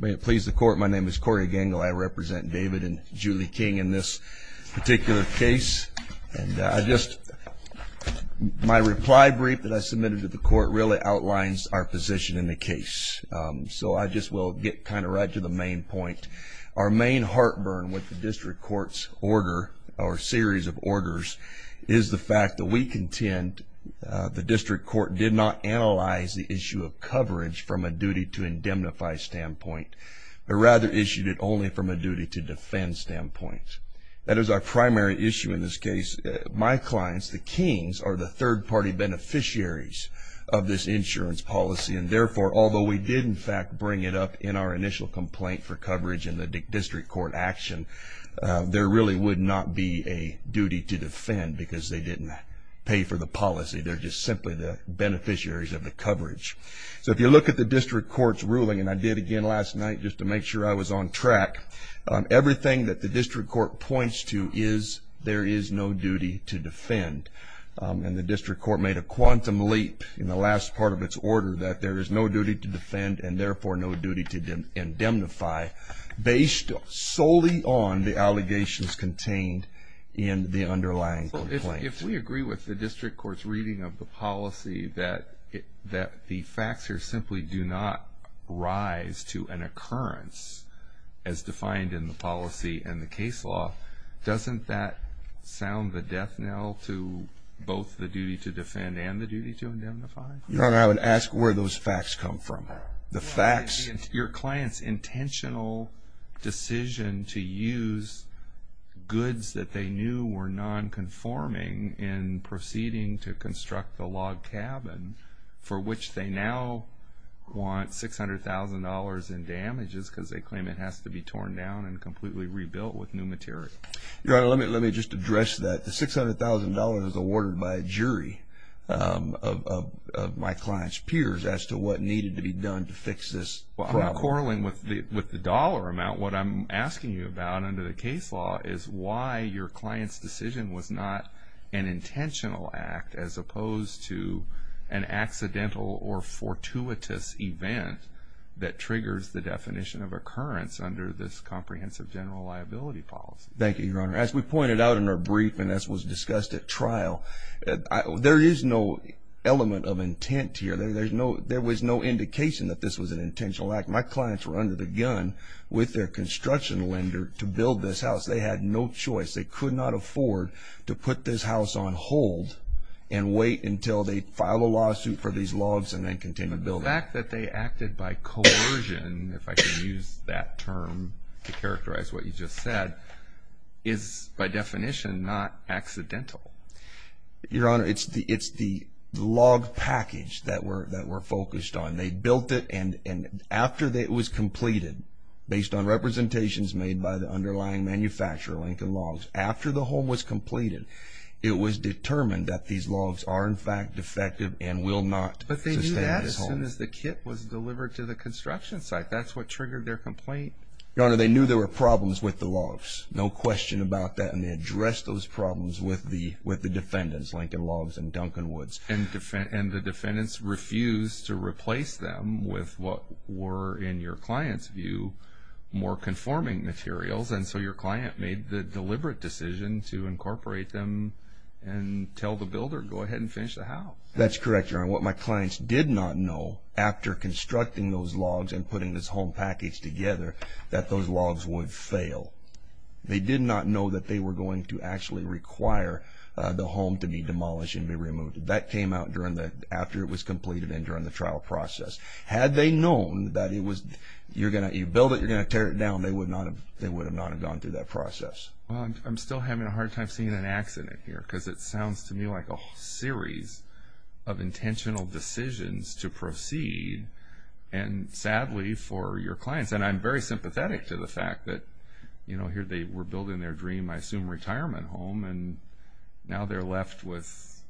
May it please the court, my name is Corey Gangle. I represent David and Julie King in this particular case, and I just, my reply brief that I submitted to the court really outlines our position in the case. So I just will get kind of right to the main point. Our main heartburn with the district court's order, or series of orders, is the fact that we contend the district court did not analyze the issue of coverage from a duty to indemnify standpoint, but rather issued it only from a duty to defend standpoint. That is our primary issue in this case. My clients, the Kings, are the third-party beneficiaries of this insurance policy, and therefore, although we did in fact bring it up in our initial complaint for coverage in the district court action, there really would not be a duty to defend because they didn't pay for the policy. They're just simply the beneficiaries of the coverage. So if you look at the district court's ruling, and I did again last night just to make sure I was on track, everything that the district court points to is there is no duty to defend. And the district court made a quantum leap in the last part of its order that there is no duty to defend, and therefore, no duty to indemnify based solely on the allegations contained in the underlying complaint. If we agree with the district court's reading of the policy that the facts here simply do not rise to an occurrence as defined in the policy and the case law, doesn't that sound the death knell to both the duty to defend and the duty to indemnify? Your Honor, I would ask where those facts come from. The facts... Your client's intentional decision to use goods that they knew were nonconforming in proceeding to construct the log cabin, for which they now want $600,000 in damages because they claim it has to be torn down and completely rebuilt with new material. Your Honor, let me just address that. The $600,000 is awarded by a jury of my client's peers as to what needed to be done to fix this problem. Well, I'm quarreling with the dollar amount. What I'm asking you about under the case law is why your client's decision was not an intentional act as opposed to an accidental or fortuitous event that triggers the definition of occurrence under this comprehensive general liability policy. Thank you, Your Honor. As we pointed out in our brief and as was discussed at trial, there is no element of intent here. There was no indication that this was an intentional act. My clients were under the gun with their construction lender to build this house. They had no choice. They could not afford to put this house on hold and wait until they file a lawsuit for these logs and then continue to build it. The fact that they acted by coercion, if I can use that term to characterize what you just said, is by definition not accidental. Your Honor, it's the log package that we're focused on. They built it and after it was completed, based on representations made by the underlying manufacturer, Lincoln Logs, after the home was completed, it was determined that these logs are in fact defective and will not sustain this home. But they knew that as soon as the kit was delivered to the construction site. That's what triggered their complaint. Your Honor, they knew there were problems with the logs. No question about that and they addressed those problems with the defendants, Lincoln Logs and Duncan Woods. And the defendants refused to replace them with what were, in your client's view, more conforming materials and so your client made the deliberate decision to incorporate them and tell the builder, go ahead and finish the house. That's correct, Your Honor. What my clients did not know, after constructing those logs and putting this home package together, that those logs would fail. They did not know that they were going to actually require the home to be demolished and be removed. That came out after it was completed and during the trial process. Had they known that you build it, you're going to tear it down, they would not have gone through that process. Well, I'm still having a hard time seeing an accident here because it sounds to me like a series of intentional decisions to proceed and sadly for your clients, and I'm very sympathetic to the fact that here they were building their dream, I assume, retirement home and now they're left with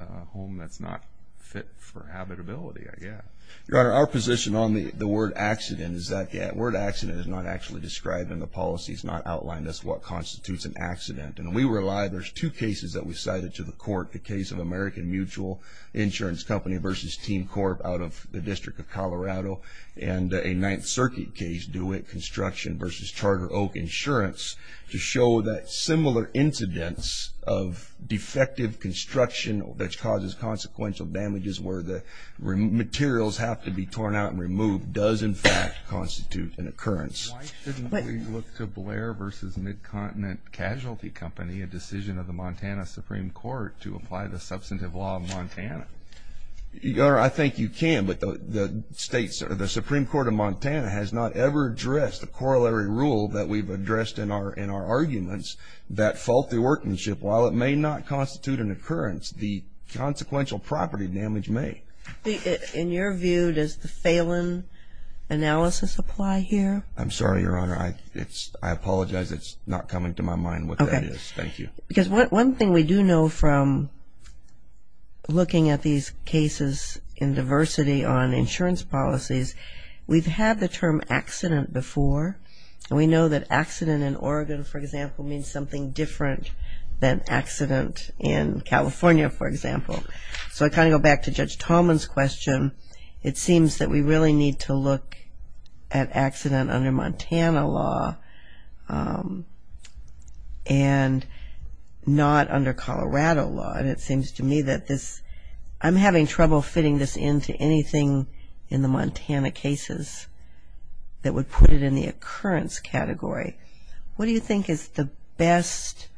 a home that's not fit for habitability, I guess. Your Honor, our position on the word accident is that word accident is not actually described in the policy. It's not outlined as what constitutes an accident and we rely, there's two cases that we cited to the court. The case of American Mutual Insurance Company versus Team Corp out of the District of Colorado and a Ninth Circuit case, DeWitt Construction versus Charter Oak Insurance, to show that similar incidents of defective construction that causes consequential damages where the materials have to be torn out and removed does in fact constitute an occurrence. Why shouldn't we look to Blair versus Mid-Continent Casualty Company, a decision of the Montana Supreme Court, to apply the substantive law of Montana? Your Honor, I think you can, but the Supreme Court of Montana has not ever addressed the corollary rule that we've addressed in our arguments that faulty workmanship, while it may not constitute an occurrence, the consequential property damage may. In your view, does the Phelan analysis apply here? I'm sorry, Your Honor. I apologize. It's not coming to my mind what that is. Thank you. Because one thing we do know from looking at these cases in diversity on insurance policies, we've had the term accident before. We know that accident in Oregon, for example, means something different than accident in California, for example. So I kind of go back to Judge Tallman's question. It seems that we really need to look at accident under Montana law and not under Colorado law. And it seems to me that this, I'm having trouble fitting this into anything in the Montana cases that would put it in the occurrence category. What do you think is the best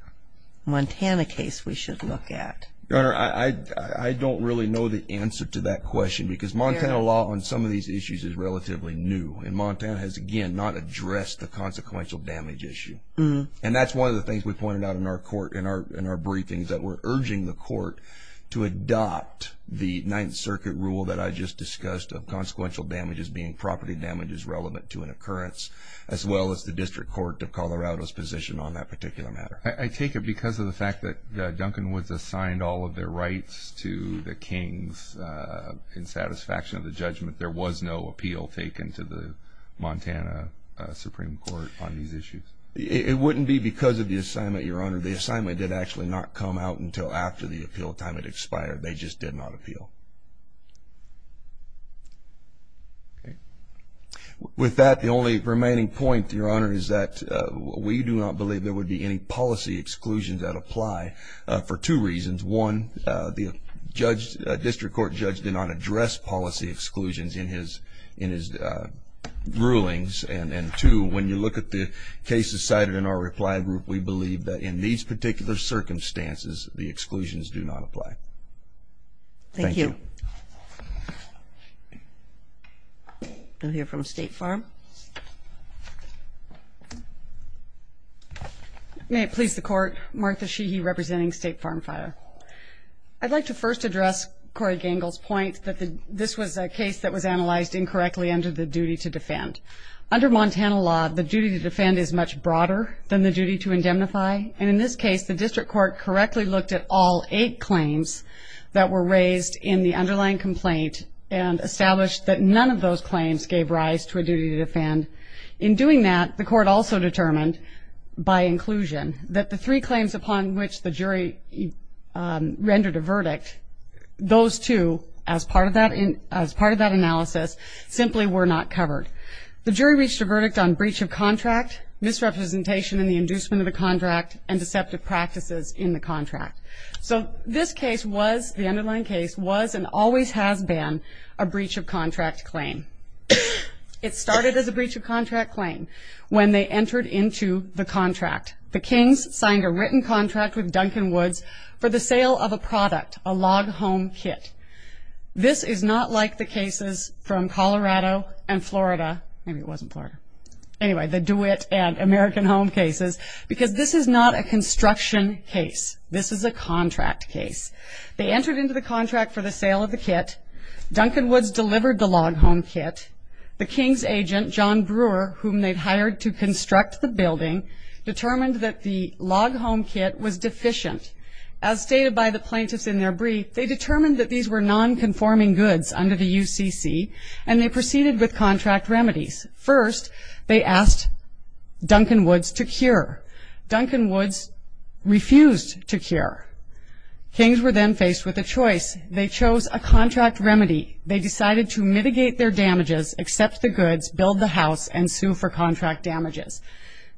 Montana case we should look at? Your Honor, I don't really know the answer to that question because Montana law on some of these issues is relatively new. And Montana has, again, not addressed the consequential damage issue. And that's one of the things we pointed out in our court, in our briefings, that we're urging the court to adopt the Ninth Circuit rule that I just discussed of consequential damages being property damages relevant to an occurrence, as well as the District Court of Colorado's position on that particular matter. I take it because of the fact that Duncan was assigned all of their rights to the Kings in satisfaction of the judgment, there was no appeal taken to the Montana Supreme Court on these issues. It wouldn't be because of the assignment, Your Honor. The assignment did actually not come out until after the appeal time had expired. They just did not appeal. With that, the only remaining point, Your Honor, is that we do not believe there would be any policy exclusions that apply for two reasons. One, the District Court judge did not address policy exclusions in his rulings. And two, when you look at the cases cited in our reply group, we believe that in these particular circumstances, the exclusions do not apply. Thank you. Thank you. We'll hear from State Farm. May it please the Court, Martha Sheehy, representing State Farm Fire. I'd like to first address Corey Gangle's point that this was a case that was analyzed incorrectly under the duty to defend. Under Montana law, the duty to defend is much broader than the duty to indemnify. And in this case, the District Court correctly looked at all eight claims that were raised in the underlying complaint and established that none of those claims gave rise to a duty to defend. In doing that, the Court also determined, by inclusion, that the three claims upon which the jury rendered a verdict, those two, as part of that analysis, simply were not covered. The jury reached a verdict on breach of contract, misrepresentation in the inducement of a contract, and deceptive practices in the contract. So this case was, the underlying case, was and always has been a breach of contract claim. It started as a breach of contract claim when they entered into the contract. The Kings signed a written contract with Duncan Woods for the sale of a product, a log home kit. This is not like the cases from Colorado and Florida, maybe it wasn't Florida, anyway, the DeWitt and American Home cases, because this is not a construction case. This is a contract case. They entered into the contract for the sale of the kit. Duncan Woods delivered the log home kit. The Kings agent, John Brewer, whom they'd hired to construct the building, determined that the log home kit was deficient. As stated by the plaintiffs in their brief, they determined that these were non-conforming goods under the UCC, and they proceeded with contract remedies. First, they asked Duncan Woods to cure. Duncan Woods refused to cure. Kings were then faced with a choice. They chose a contract remedy. They decided to mitigate their damages, accept the goods, build the house, and sue for contract damages.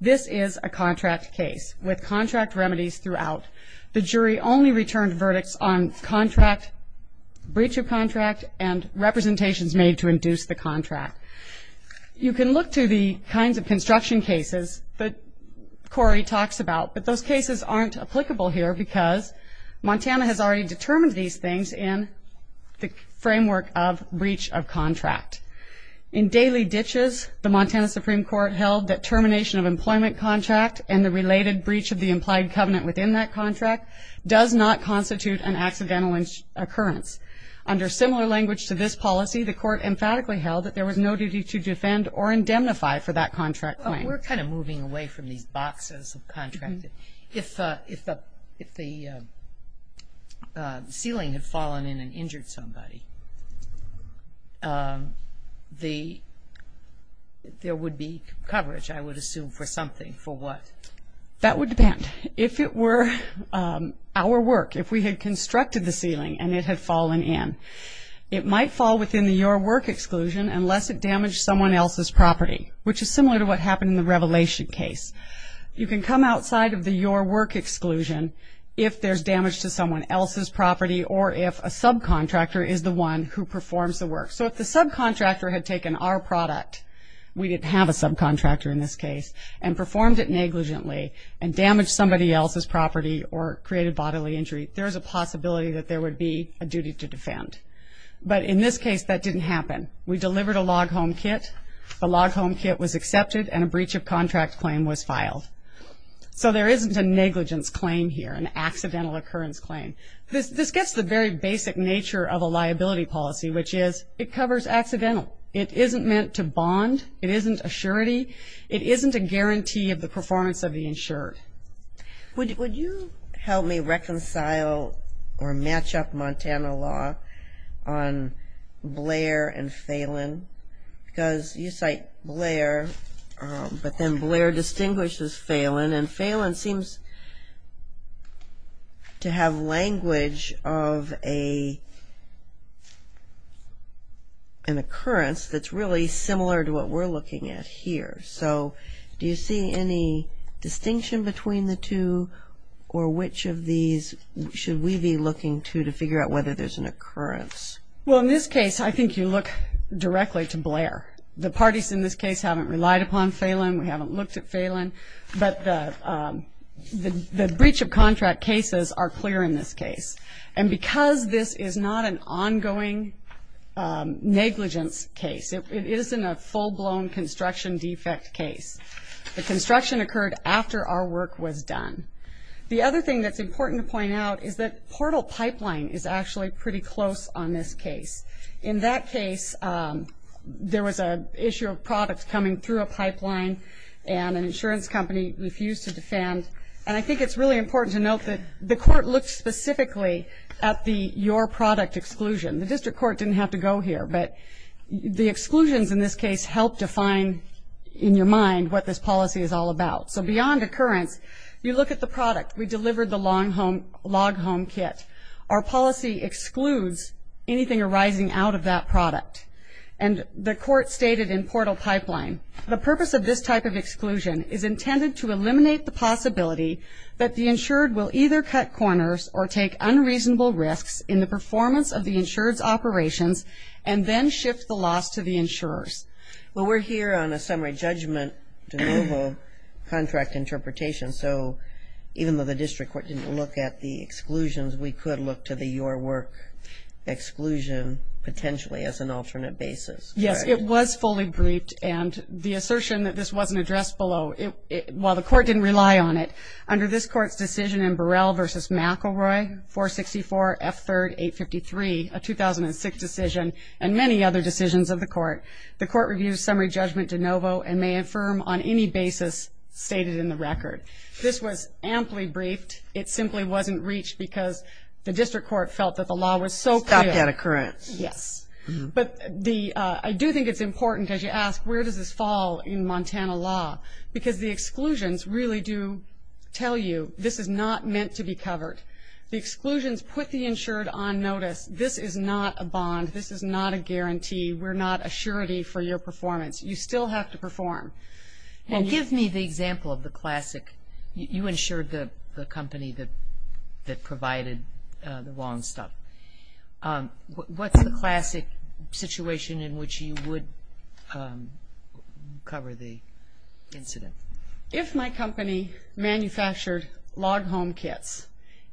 This is a contract case with contract remedies throughout. The jury only returned verdicts on contract, breach of contract, and representations made to induce the contract. You can look to the kinds of construction cases that Corey talks about, but those cases aren't applicable here because Montana has already determined these things in the framework of breach of contract. In daily ditches, the Montana Supreme Court held that termination of employment contract and the related breach of the implied covenant within that contract does not constitute an accidental occurrence. Under similar language to this policy, the court emphatically held that there was no duty to defend or indemnify for that contract claim. We're kind of moving away from these boxes of contract. If the ceiling had fallen in and injured somebody, there would be coverage, I would assume, for something. For what? That would depend. If it were our work, if we had constructed the ceiling and it had fallen in, it might fall within the your work exclusion unless it damaged someone else's property, which is similar to what happened in the revelation case. You can come outside of the your work exclusion if there's damage to someone else's property or if a subcontractor is the one who performs the work. So if the subcontractor had taken our product, we didn't have a subcontractor in this case, and performed it negligently and damaged somebody else's property or created bodily injury, there's a possibility that there would be a duty to defend. But in this case, that didn't happen. We delivered a log home kit. The log home kit was accepted and a breach of contract claim was filed. So there isn't a negligence claim here, an accidental occurrence claim. This gets to the very basic nature of a liability policy, which is it covers accidental. It isn't meant to bond, it isn't a surety, it isn't a guarantee of the performance of the insured. Would you help me reconcile or match up Montana law on Blair and Phelan? Because you cite Blair, but then Blair distinguishes Phelan, and Phelan seems to have language of an occurrence that's really similar to what we're looking at here. So do you see any distinction between the two, or which of these should we be looking to to figure out whether there's an occurrence? Well, in this case, I think you look directly to Blair. The parties in this case haven't relied upon Phelan, we haven't looked at Phelan, but the breach of contract cases are clear in this case. And because this is not an ongoing negligence case, it isn't a full-blown construction defect case. The construction occurred after our work was done. The other thing that's important to point out is that Portal Pipeline is actually pretty close on this case. In that case, there was an issue of products coming through a pipeline, and an insurance company refused to defend, and I think it's really important to note that the court looked specifically at the your product exclusion. The district court didn't have to go here, but the exclusions in this case help define in your mind what this policy is all about. So beyond occurrence, you look at the product. We delivered the log home kit. Our policy excludes anything arising out of that product. And the court stated in Portal Pipeline, the purpose of this type of exclusion is intended to eliminate the possibility that the insured will either cut corners or take unreasonable risks in the performance of the insured's operations, and then shift the loss to the insurers. Well, we're here on a summary judgment de novo contract interpretation, so even though the district court didn't look at the exclusions, we could look to the your work exclusion potentially as an alternate basis. Yes, it was fully briefed, and the assertion that this wasn't addressed below, while the court didn't rely on it, under this court's decision in Burrell v. McElroy, 464 F. 3rd, 853, a 2006 decision, and many other decisions of the court, the court reviews summary judgment de novo and may affirm on any basis stated in the record. This was amply briefed. It simply wasn't reached because the district court felt that the law was so clear. Stopped at occurrence. Yes. But the, I do think it's important, as you ask, where does this fall in Montana law? Because the exclusions really do tell you this is not meant to be covered. The exclusions put the insured on notice. This is not a bond. This is not a guarantee. We're not a surety for your performance. You still have to perform. And give me the example of the classic, you insured the company that provided the wrong stuff. What's the classic situation in which you would cover the incident? If my company manufactured log home kits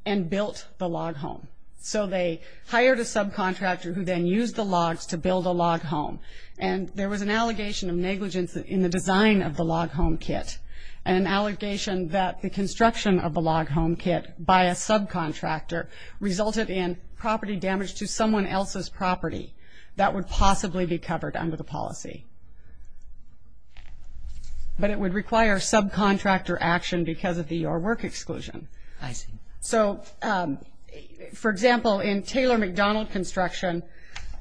and built the log home, so they hired a subcontractor who then used the logs to build a log home, and there was an allegation of negligence in the design of the log home kit, an allegation that the construction of the log home kit by a subcontractor resulted in property damage to someone else's property, that would possibly be covered under the policy. But it would require subcontractor action because of the your work exclusion. So for example, in Taylor McDonald construction,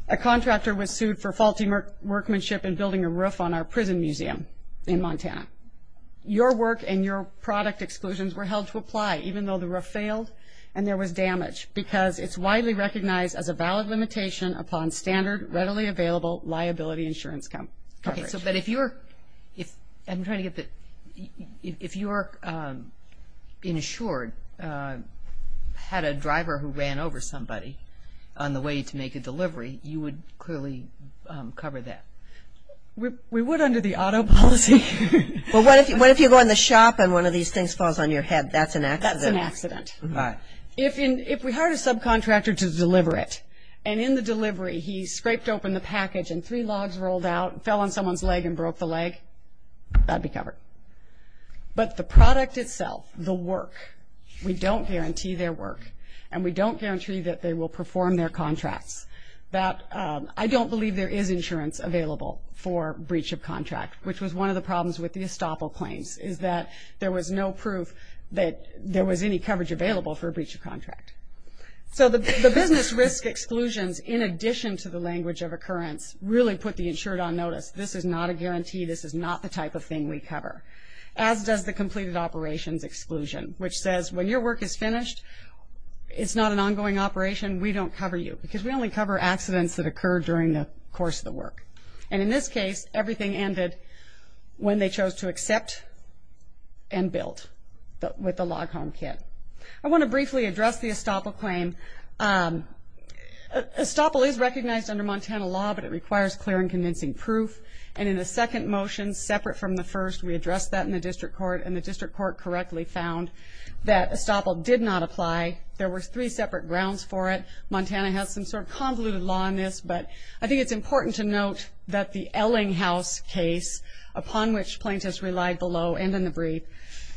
a contractor was sued for faulty workmanship in building a roof on our prison museum in Montana. Your work and your product exclusions were held to apply, even though the roof failed and there was damage, because it's widely recognized as a valid limitation upon standard readily available liability insurance coverage. Okay, so but if you're, I'm trying to get the, if you're insured, had a driver who ran over somebody on the way to make a delivery, you would clearly cover that? We would under the auto policy. Well, what if you go in the shop and one of these things falls on your head? That's an accident. That's an accident. Right. If we hired a subcontractor to deliver it, and in the delivery he scraped open the package and three logs rolled out, fell on someone's leg and broke the leg, that'd be covered. But the product itself, the work, we don't guarantee their work, and we don't guarantee that they will perform their contracts. That, I don't believe there is insurance available for breach of contract, which was one of the problems with the estoppel claims, is that there was no proof that there was any coverage available for a breach of contract. So the business risk exclusions, in addition to the language of occurrence, really put the insured on notice. This is not a guarantee. This is not the type of thing we cover, as does the completed operations exclusion, which says when your work is finished, it's not an ongoing operation, we don't cover you, because we only cover accidents that occur during the course of the work. And in this case, everything ended when they chose to accept and built with the log home kit. I want to briefly address the estoppel claim. Estoppel is recognized under Montana law, but it requires clear and convincing proof, and in the second motion, separate from the first, we addressed that in the district court, and the district court correctly found that estoppel did not apply. There were three separate grounds for it. Montana has some sort of convoluted law on this, but I think it's important to note that the Ellinghouse case, upon which plaintiffs relied below and in the brief,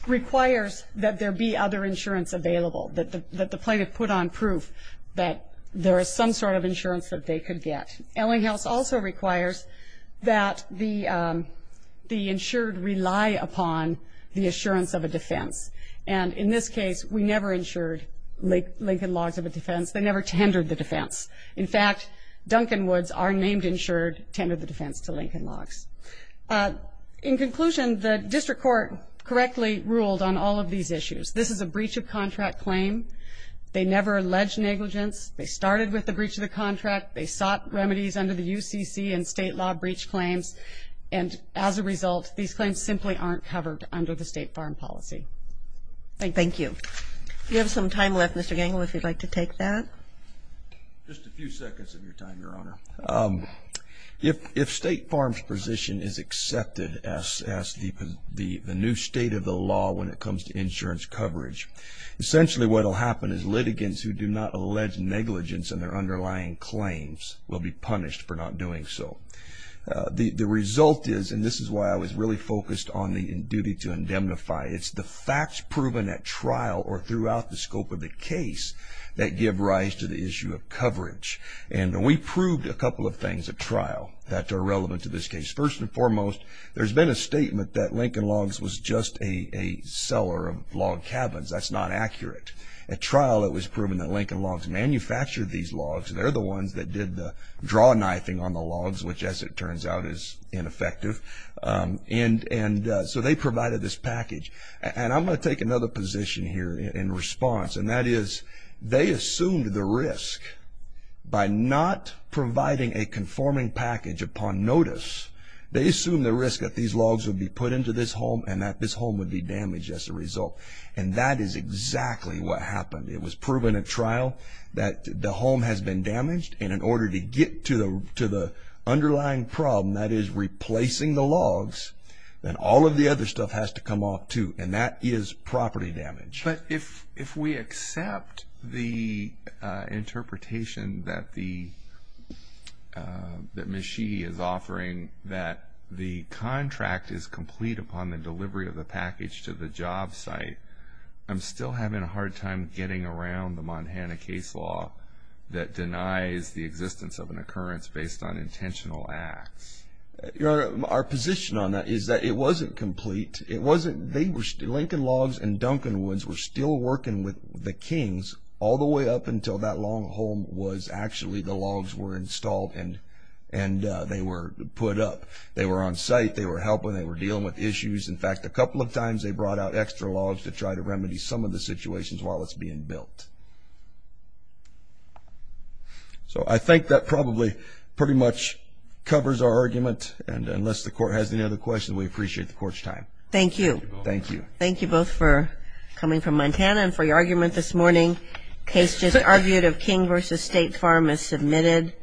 requires that there be other insurance available, that the plaintiff put on proof that there is some sort of insurance that they could get. Ellinghouse also requires that the insured rely upon the assurance of a defense. And in this case, we never insured Lincoln Logs of a Defense. They never tendered the defense. In fact, Duncan Woods, our named insured, tendered the defense to Lincoln Logs. In conclusion, the district court correctly ruled on all of these issues. This is a breach of contract claim. They never alleged negligence. They started with the breach of the contract. They sought remedies under the UCC and state law breach claims, and as a result, these claims simply aren't covered under the state foreign policy. Thank you. You have some time left, Mr. Gangle, if you'd like to take that. Just a few seconds of your time, Your Honor. If state farms' position is accepted as the new state of the law when it comes to insurance coverage, essentially what will happen is litigants who do not allege negligence in their underlying claims will be punished for not doing so. The result is, and this is why I was really focused on the duty to indemnify, it's the facts proven at trial or throughout the scope of the case that give rise to the issue of coverage. And we proved a couple of things at trial that are relevant to this case. First and foremost, there's been a statement that Lincoln Logs was just a seller of log cabins. That's not accurate. At trial, it was proven that Lincoln Logs manufactured these logs. They're the ones that did the draw knifing on the logs, which as it turns out is ineffective. And so they provided this package. And I'm going to take another position here in response. And that is, they assumed the risk by not providing a conforming package upon notice, they assumed the risk that these logs would be put into this home and that this home would be damaged as a result. And that is exactly what happened. It was proven at trial that the home has been damaged. And in order to get to the underlying problem, that is replacing the logs, then all of the other stuff has to come off too. And that is property damage. But if we accept the interpretation that Ms. Sheehy is offering that the contract is complete upon the delivery of the package to the job site, I'm still having a hard time getting around the Montana case law that denies the existence of an occurrence based on intentional acts. Your Honor, our position on that is that it wasn't complete. It wasn't, Lincoln Logs and Duncan Woods were still working with the Kings all the way up until that long haul was actually the logs were installed and they were put up. They were on site, they were helping, they were dealing with issues. In fact, a couple of times they brought out extra logs to try to remedy some of the situations while it's being built. So I think that probably pretty much covers our argument. And unless the Court has any other questions, we appreciate the Court's time. Thank you. Thank you. Thank you both for coming from Montana and for your argument this morning. Case just argued of King v. State Farm is submitted.